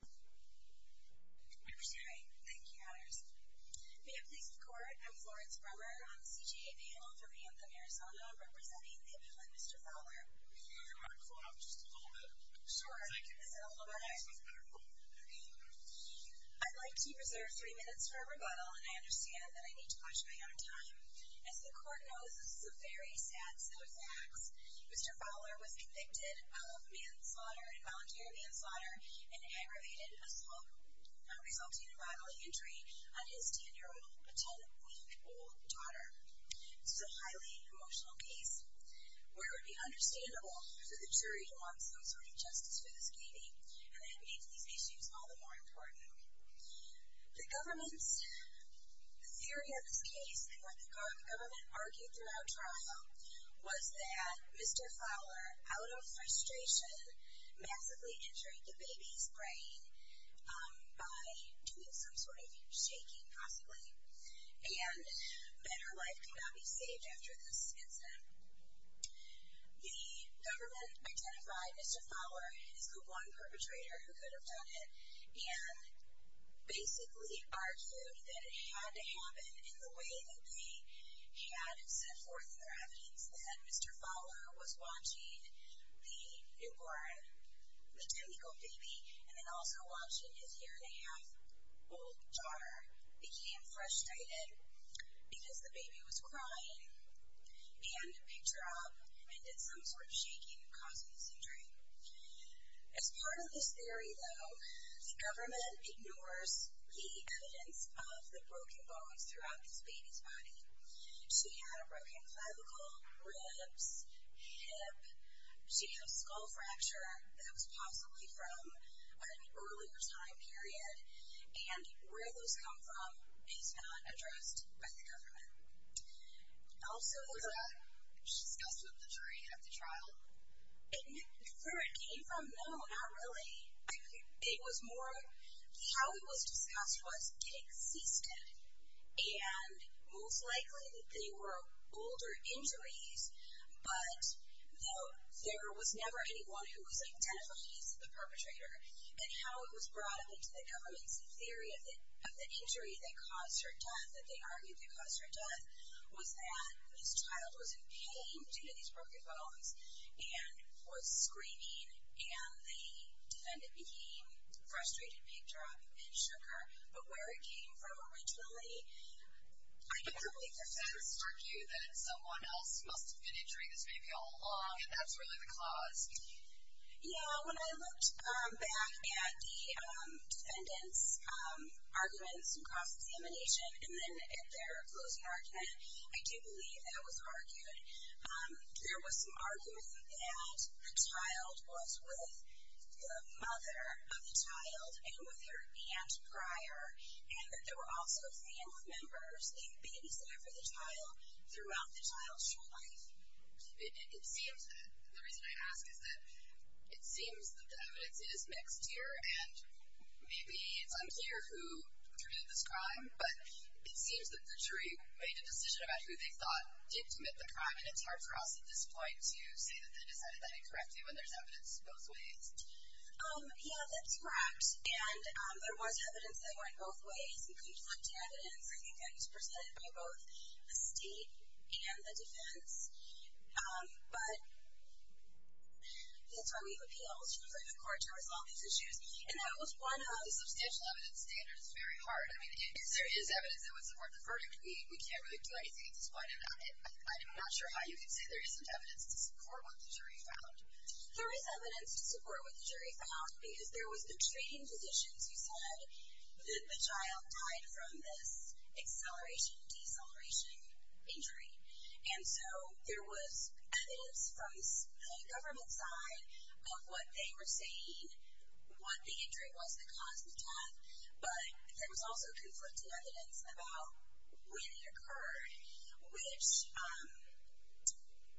May it please the Court, I'm Florence Brummer on the CJA panel for Bantam, Arizona, representing the inmate, Mr. Fowler. You want to close out just a little bit? Sure. I'd like to preserve three minutes for rebuttal, and I understand that I need to watch my own time. Mr. Fowler was convicted of manslaughter, involuntary manslaughter, and aggravated assault, resulting in a bodily injury on his 10-year-old, potentially old daughter. This is a highly emotional case, where it would be understandable for the jury to want some sort of justice for this inmate, and it makes these issues all the more important. The government's theory of this case, and what the government argued throughout trial, was that Mr. Fowler, out of frustration, massively injured the baby's brain by doing some sort of shaking, possibly, and that her life could not be saved after this incident. The government identified Mr. Fowler as the one perpetrator who could have done it, and basically argued that it had to happen in the way that they had set forth their evidence that Mr. Fowler was watching the newborn, the 10-year-old baby, and then also watching his year-and-a-half-old daughter, became frustrated because the baby was crying, and picked her up, and did some sort of shaking, causing the injury. As part of this theory, though, the government ignores the evidence of the broken bones throughout this baby's body. She had a broken clavicle, ribs, hip, she had a skull fracture that was possibly from an earlier time period, and where those come from is not addressed by the government. Also, was that discussed with the jury at the trial? Where it came from, no, not really. It was more, how it was discussed was it existed, and most likely they were older injuries, but there was never anyone who was a potential case of the perpetrator. And how it was brought up into the government's theory of the injury that caused her death, that they argued that caused her death, was that this child was in pain due to these broken bones, and was screaming, and the defendant became frustrated, picked her up, and shook her. But where it came from originally, I can't really defend. But that doesn't stir you that someone else must have been injuring this baby all along, and that's really the cause? Yeah, when I looked back at the defendant's arguments and cross-examination, and then at their closing argument, I do believe that was argued. There was some argument that the child was with the mother of the child, and with her aunt prior, and that there were also family members in babysitting for the child throughout the child's true life. It seems, the reason I ask is that it seems that the evidence is mixed here, and maybe it's unclear who committed this crime, but it seems that the jury made a decision about who they thought did commit the crime, and it's hard for us at this point to say that they decided that incorrectly when there's evidence both ways. Yeah, that's correct. And there was evidence that went both ways, and conflicted evidence, I think, that was represented by both the state and the defense. But that's why we've appealed to the Supreme Court to resolve these issues, and that was one of the substantial evidence standards. It's very hard. I mean, if there is evidence that would support the verdict, we can't really do anything in spite of that. I'm not sure how you can say there isn't evidence to support what the jury found. There is evidence to support what the jury found, because there was the training physicians who said that the child died from this acceleration-deceleration injury, and so there was evidence from the government side of what they were saying, what the injury was that caused the death, but there was also conflicted evidence about when it occurred, which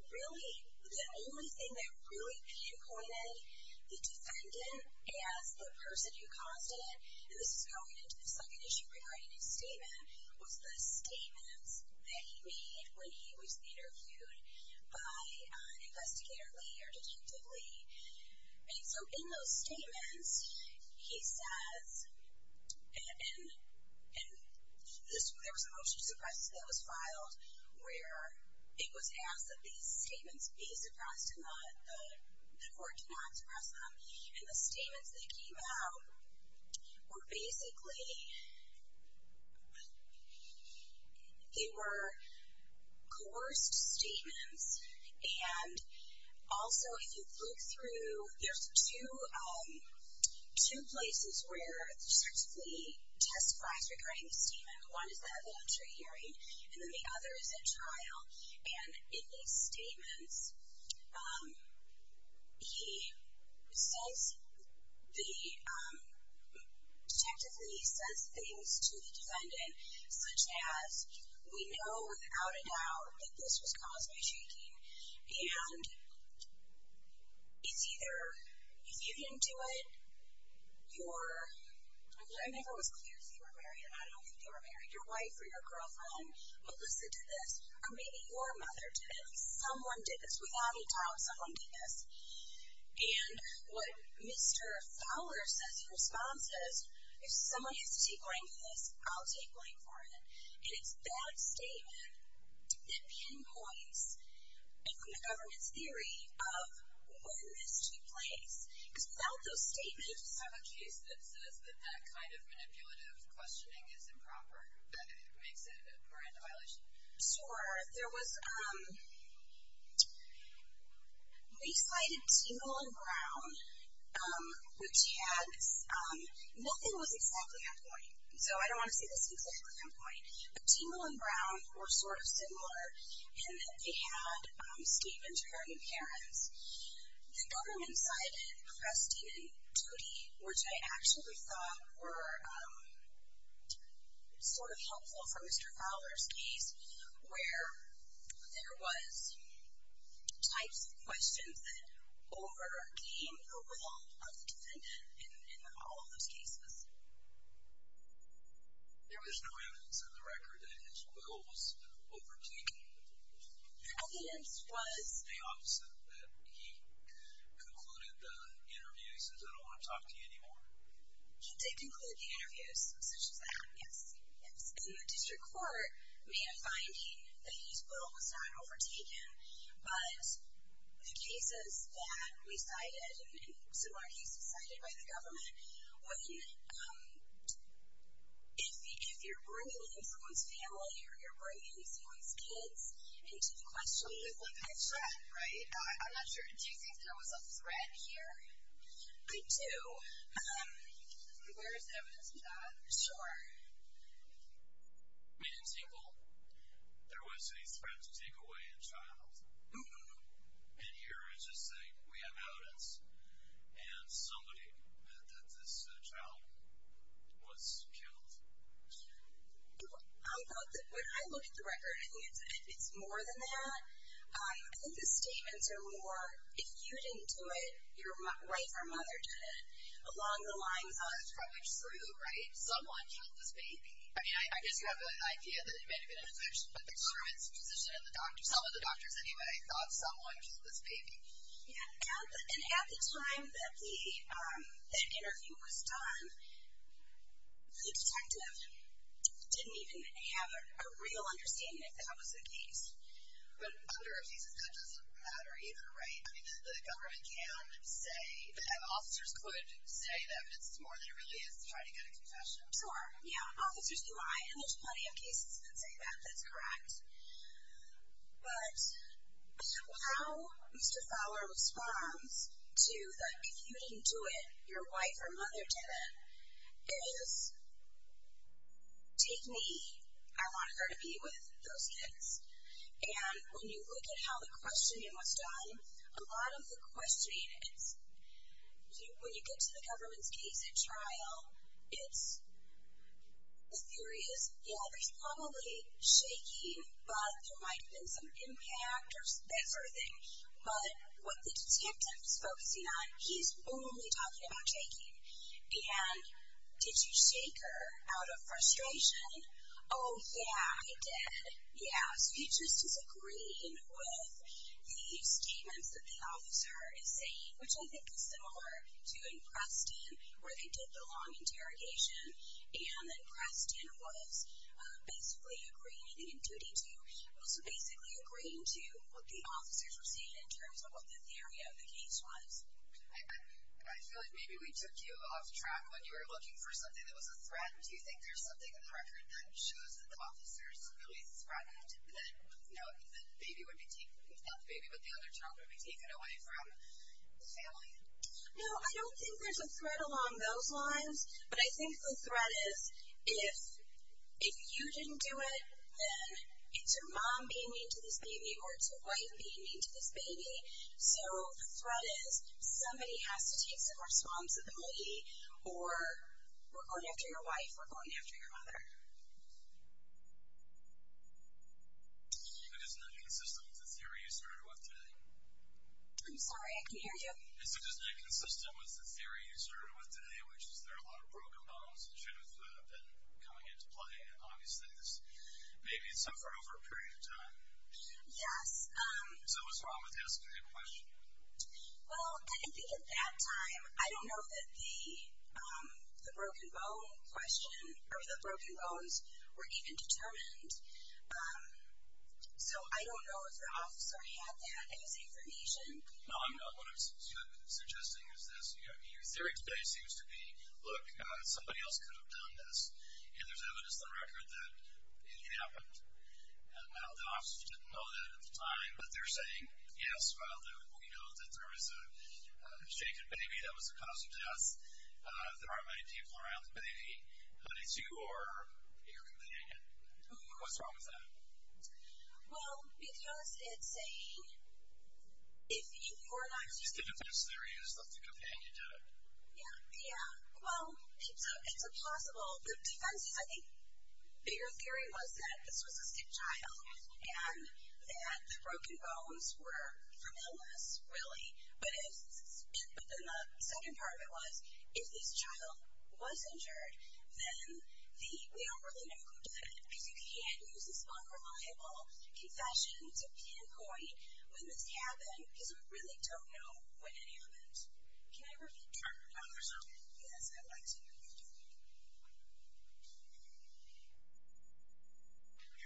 really, the only thing that really pinpointed the defendant as the person who caused it, and this is going into the second issue regarding his statement, was the statements that he made when he was interviewed by an investigator later, Detective Lee. And so in those statements, he says, and there was a motion to suppress that was filed where it was asked that these statements be suppressed and the court did not suppress them, and the statements that came out were basically, they were coerced statements, and also if you look through, there's two places where Detective Lee testifies regarding his statement. One is the evidentiary hearing, and then the other is at trial, and in these statements, he says, Detective Lee says things to the defendant, such as, we know without a doubt that this was caused by shaking, and it's either, if you didn't do it, you're, I never was clear if you were married, and I don't think you were married, your wife or your girlfriend, Melissa did this, or maybe your mother did it. Someone did this. Without a doubt, someone did this. And what Mr. Fowler says, his response is, if someone has to take blame for this, I'll take blame for it. And it's that statement that pinpoints the government's theory of where this took place, because without those statements. I just have a case that says that that kind of manipulative questioning is improper, that it makes it a grand violation. Sure. There was, we cited Tingle and Brown, which had, nothing was exactly on point, so I don't want to say this was exactly on point, but Tingle and Brown were sort of similar in that they had statements regarding parents. The government cited Cresti and Toti, which I actually thought were sort of helpful for Mr. Fowler's case, where there was types of questions that overcame the will of the defendant in all of those cases. There was no evidence in the record that she was overtaking the defendant. The evidence was? The opposite, that he concluded the interviews and said, I don't want to talk to you anymore. He did conclude the interviews, such as that. Yes. Yes. And the district court made a finding that his will was not overtaken, but the cases that we cited and similar cases cited by the government, if you're bringing someone's family or you're bringing someone's kids into the question, that's a threat, right? I'm not sure. Do you think there was a threat here? I do. Where is evidence of that? Sure. In Tingle, there was a threat to take away a child. And here it's just saying, we have evidence, and somebody that this child was killed. I thought that when I looked at the record, I think it's more than that. I think the statements are more, if you didn't do it, your wife or mother did it, along the lines of, from which group, right? Someone killed this baby. I mean, I guess you have the idea that it may have been a physician, but the government's physician and the doctor, some of the doctors anyway, thought someone killed this baby. Yeah. And at the time that the interview was done, the detective didn't even have a real understanding that that was the case. But under a thesis, that doesn't matter either, right? I mean, the government can say, and officers could say that it's more than it really is to try to get a confession. Sure, yeah. Officers can lie, and there's plenty of cases that say that. That's correct. But how Mr. Fowler responds to the, if you didn't do it, your wife or mother did it, is, take me, I want her to be with those kids. And when you look at how the questioning was done, a lot of the questioning is, when you get to the government's case at trial, it's, the theory is, yeah, there's probably shaking, but there might have been some impact or that sort of thing. But what the detective is focusing on, he's only talking about shaking. And did you shake her out of frustration? Oh, yeah, I did. Yeah. So you just disagree with the statements that the officer is saying, which I think is similar to in Preston where they did the long interrogation and Preston was basically agreeing, in 2D2, was basically agreeing to what the officers were saying in terms of what the theory of the case was. I feel like maybe we took you off track when you were looking for something that was a threat. Do you think there's something in the record that shows that the officers really threatened that, you know, the baby would be taken, not the baby, but the other child would be taken away from the family? No, I don't think there's a threat along those lines. But I think the threat is if you didn't do it, then it's your mom being mean to this baby or it's your wife being mean to this baby. So the threat is somebody has to take some responsibility or we're going after your wife, we're going after your mother. Is it just not consistent with the theory you started with today? I'm sorry, I can't hear you. Is it just not consistent with the theory you started with today, which is there are a lot of broken bones and truths that have been coming into play and obviously this baby suffered over a period of time? Yes. So what's wrong with asking that question? Well, I think at that time, I don't know that the broken bone question or the broken bones were even determined. So I don't know if the officer had that as information. No, I'm not. What I'm suggesting is this. Your theory today seems to be, look, somebody else could have done this, and there's evidence on record that it happened. Now, the officers didn't know that at the time, but they're saying, yes, well, we know that there was a shaken baby that was the cause of death. There aren't many people around the baby. It's you or your companion. What's wrong with that? Well, because it's saying if you're not going to do it. It's the defense theory is that the companion did it. Yeah. Yeah. Well, it's a possible defense. I think the bigger theory was that this was a sick child and that the broken bones were from illness, really. But then the second part of it was if this child was injured, then we don't really know who did it, because you can't use this unreliable confession to pinpoint when this happened, because we really don't know when it happened. Can I repeat? Sure. Yes, I'd like to hear you do it. Good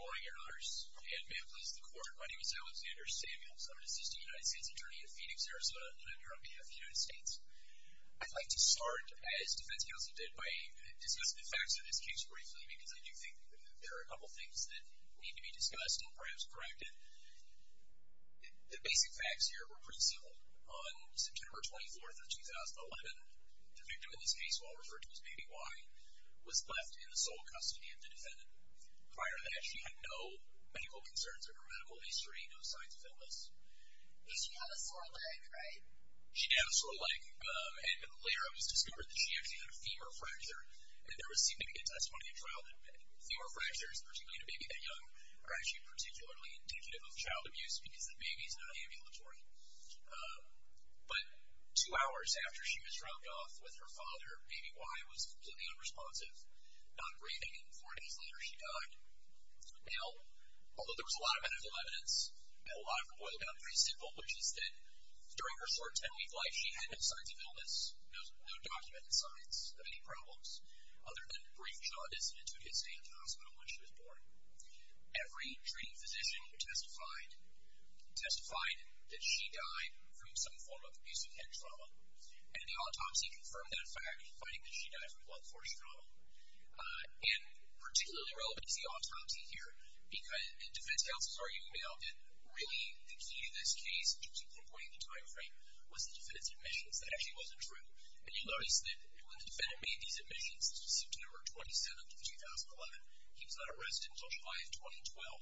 morning, Your Honors. And may it please the Court, my name is Alexander Samuels. I'm an assistant United States attorney in Phoenix, Arizona, and I'm here on behalf of the United States. I'd like to start, as defense counsel did, by discussing the facts of this case briefly, because I do think there are a couple things that need to be discussed and perhaps corrected. The basic facts here were pretty simple. On September 24th of 2011, the victim in this case, who I'll refer to as Baby Y, was left in the sole custody of the defendant. Prior to that, she had no medical concerns or her medical history, no signs of illness. But she had a sore leg, right? She did have a sore leg, and later it was discovered that she actually had a femur fracture, and there was significant testimony at trial that femur fractures, particularly in a baby that young, are actually particularly indicative of child abuse because the baby is not ambulatory. But two hours after she was dropped off with her father, Baby Y was completely unresponsive, not breathing, and four days later she died. Now, although there was a lot of medical evidence, a lot of it boiled down to pretty simple, which is that during her short ten-week life she had no signs of illness, no documented signs of any problems, other than brief jaw dissonance who had stayed in the hospital when she was born. Every treating physician testified that she died from some form of abusive head trauma, and the autopsy confirmed that fact, finding that she died from blood force trauma. And particularly relevant to the autopsy here, because defense counsels argue now that really the key to this case, which was pinpointing the time frame, was the defendant's admissions. That actually wasn't true. And you'll notice that when the defendant made these admissions, September 27th of 2011, he was not a resident until July of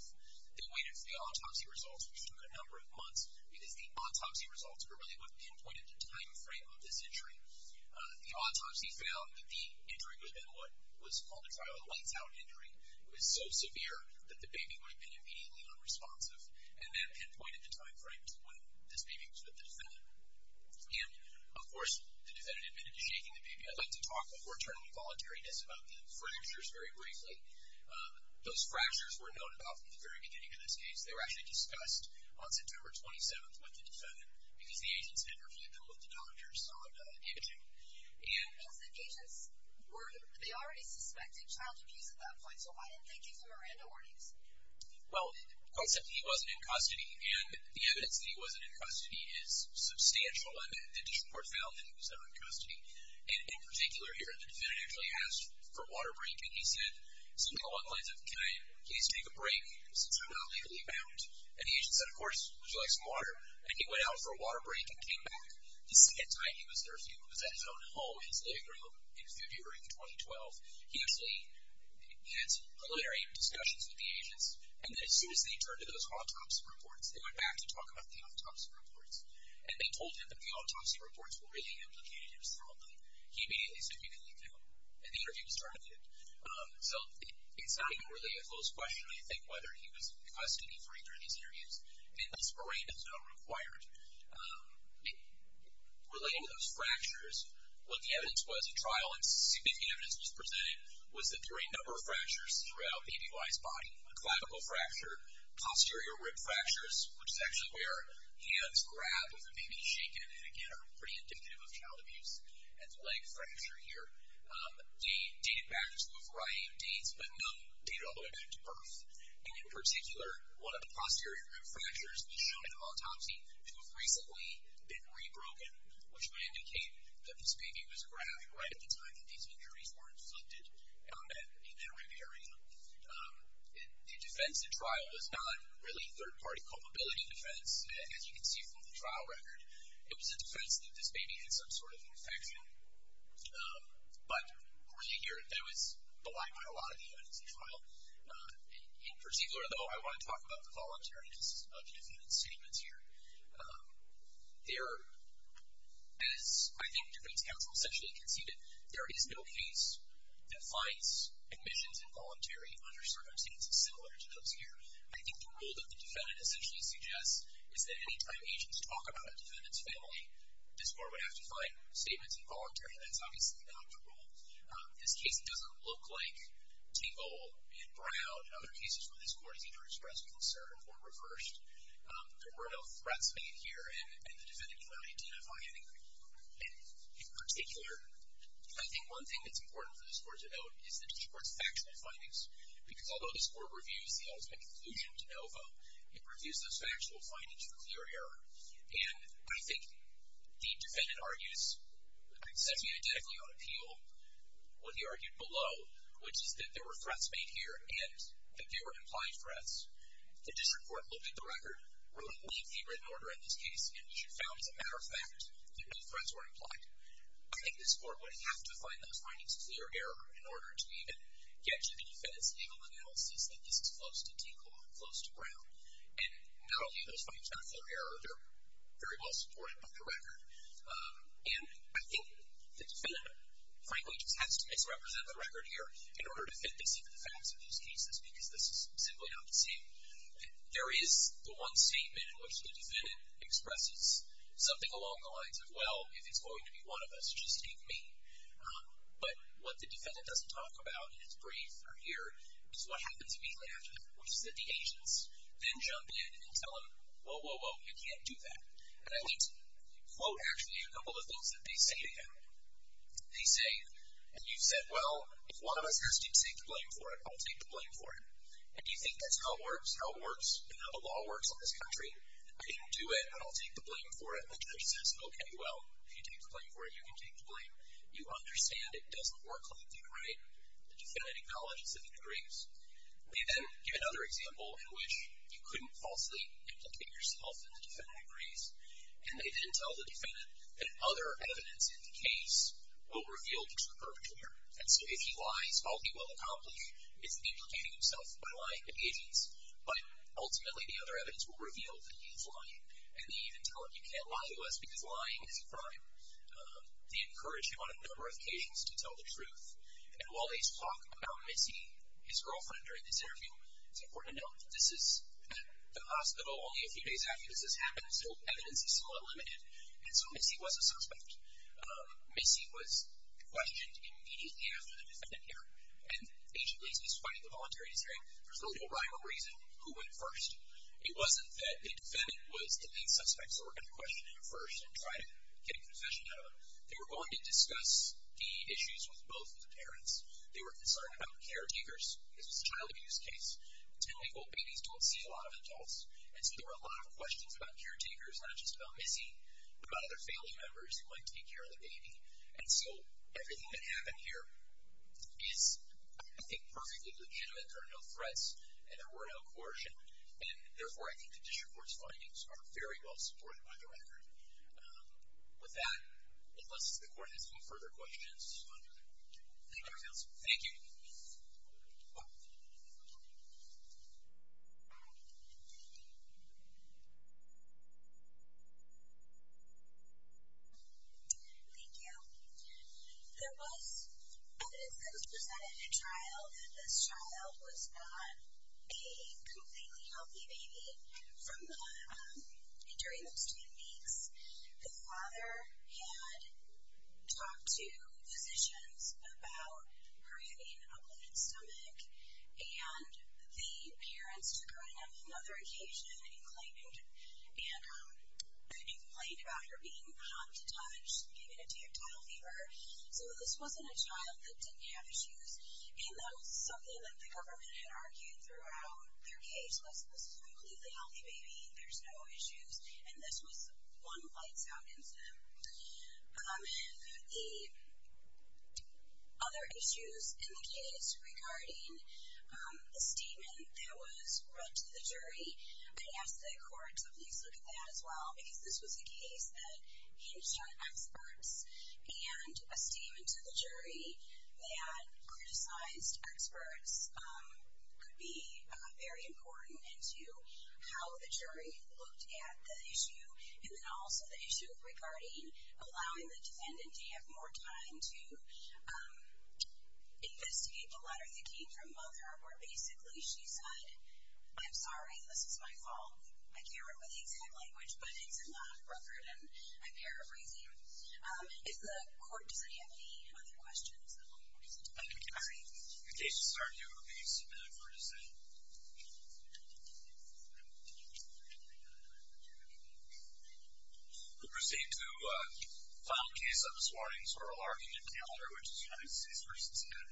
2012. They waited for the autopsy results, which took a number of months, because the autopsy results were really what pinpointed the time frame of this injury. The autopsy found that the injury was then what was called a trial of lights-out injury. It was so severe that the baby would have been immediately unresponsive, and that pinpointed the time frame when this baby was with the defendant. And, of course, the defendant admitted to shaking the baby. I'd like to talk before turning to voluntariness about the fractures very briefly. Those fractures were known about from the very beginning of this case. They were actually discussed on September 27th with the defendant, because the agents had referred them to the doctors on day two. And... Well, the agents were, they already suspected child abuse at that point, so why didn't they give him Miranda warnings? Well, conceptually, he wasn't in custody, and the evidence that he wasn't in custody is substantial. The district court found that he was not in custody. And in particular here, the defendant actually asked for water breaking. He said something along the lines of, can I at least take a break since I'm not legally bound? And the agent said, of course, would you like some water? And he went out for a water break and came back. The second time he was there, he was at his own home in his living room in February of 2012. He actually had some preliminary discussions with the agents. And then as soon as they turned to those autopsy reports, they went back to talk about the autopsy reports. And they told him that the autopsy reports were really implicated in his wrongdoing. He immediately said, we can leave now. And the interview was terminated. So it's not even really a close question, I think, whether he was in custody for either of these interviews. And this arraignment is not required. Relating to those fractures, what the evidence was in trial, and significant evidence was presented, was that there were a number of fractures throughout ABY's body. A clavicle fracture, posterior rib fractures, which is actually where hands grab if a baby is shaken, and again are pretty indicative of child abuse. And the leg fracture here dated back to a variety of dates, but none dated all the way back to birth. And in particular, one of the posterior rib fractures was shown in an autopsy, which was recently been re-broken, which may indicate that this baby was grabbed right at the time that these injuries were inflicted on it in that arraignment. The defense in trial was not really third-party culpability defense, as you can see from the trial record. It was a defense that this baby had some sort of infection. But, of course, you hear that was belied by a lot of the evidence in trial. In particular, though, I want to talk about the voluntary, just a few different statements here. There, as I think defense counsel essentially conceded, there is no case that finds admissions involuntary under certain circumstances similar to those here. I think the rule that the defendant essentially suggests is that any time agents talk about a defendant's family, this court would have to find statements involuntary. That's obviously not the rule. This case doesn't look like Tingle and Brown and other cases where this court has either expressed concern or reversed. There were no threats made here, and the defendant cannot identify any. In particular, I think one thing that's important for this court to note is that this court's factual findings. Because although this court reviews the ultimate conclusion to NOVA, it reviews those factual findings for clear error. And I think the defendant argues essentially identically on appeal, what he argued below, which is that there were threats made here, and that they were implied threats. The district court looked at the record, ruled it lead favor in order in this case, and found, as a matter of fact, that no threats were implied. I think this court would have to find those findings of clear error in order to even get to the defendant's legal analysis that this is close to Tingle and close to Brown. And not only are those findings not clear error, they're very well supported by the record. And I think the defendant, frankly, just has to misrepresent the record here in order to fit this into the facts of these cases, because this is simply not the same. There is the one statement in which the defendant expresses something along the lines of, well, if it's going to be one of us, just take me. But what the defendant doesn't talk about in his brief here is what happens immediately after that, which is that the agents then jump in and tell him, whoa, whoa, whoa, you can't do that. And I'd like to quote, actually, a couple of things that they say to him. They say, well, if one of us has deep-seated blame for it, I'll take the blame for it. And do you think that's how it works, how the law works in this country? I didn't do it, but I'll take the blame for it. And the judge says, okay, well, if you take the blame for it, you can take the blame. You understand it doesn't work like that, right? The defendant acknowledges that he agrees. They then give another example in which you couldn't falsely implicate yourself and the defendant agrees. And they then tell the defendant that other evidence in the case will reveal that he's a perpetrator. And so if he lies, all he will accomplish is implicating himself by lying to the agents, but ultimately the other evidence will reveal that he's lying. And they even tell him, you can't lie to us because lying is a crime. They encourage him on a number of casings to tell the truth. And while they talk about Missy, his girlfriend, during this interview, it's important to note that this is at the hospital only a few days after this has happened, so evidence is still unlimited. And so Missy was a suspect. Missy was questioned immediately after the defendant appeared. And Agent Lacy is fighting the voluntary decision. There's no real rival reason who went first. It wasn't that the defendant was the main suspect, so we're going to question him first and try to get a confession out of him. They were going to discuss the issues with both of the parents. They were concerned about the caretakers. This was a child abuse case. 10-week-old babies don't see a lot of adults. And so there were a lot of questions about caretakers, not just about Missy, but about other family members who might take care of the baby. And so everything that happened here is, I think, perfectly legitimate. There are no threats, and there were no coercion. And, therefore, I think the district court's findings are very well supported by the record. With that, unless the court has no further questions. Thank you, counsel. Thank you. Thank you. There was evidence that was presented in trial that this child was not a completely healthy baby during those 10 weeks. The father had talked to physicians about her having a bloated stomach, and the parents took her in on another occasion and complained about her being hot to touch, giving it to you, a total fever. So this wasn't a child that didn't have issues, and that was something that the government had argued throughout their case. This was a completely healthy baby. There's no issues. And this was one that lights out instantly. The other issues in the case regarding the statement that was brought to the jury, I'd ask the court to please look at that as well, because this was a case that hinged on experts. And a statement to the jury that criticized experts could be very important into how the jury looked at the issue, and then also the issue regarding allowing the defendant to have more time to investigate the letter that came from Mother, where basically she said, I'm sorry, this is my fault. I can't remember the exact language, but it's in the record, and I'm paraphrasing. Does the court have any other questions? And we can proceed. The case is adjourned. Thank you so much for your decision. We'll proceed to the final case of this morning, so we'll argue in calendar, which is United States v. Canada.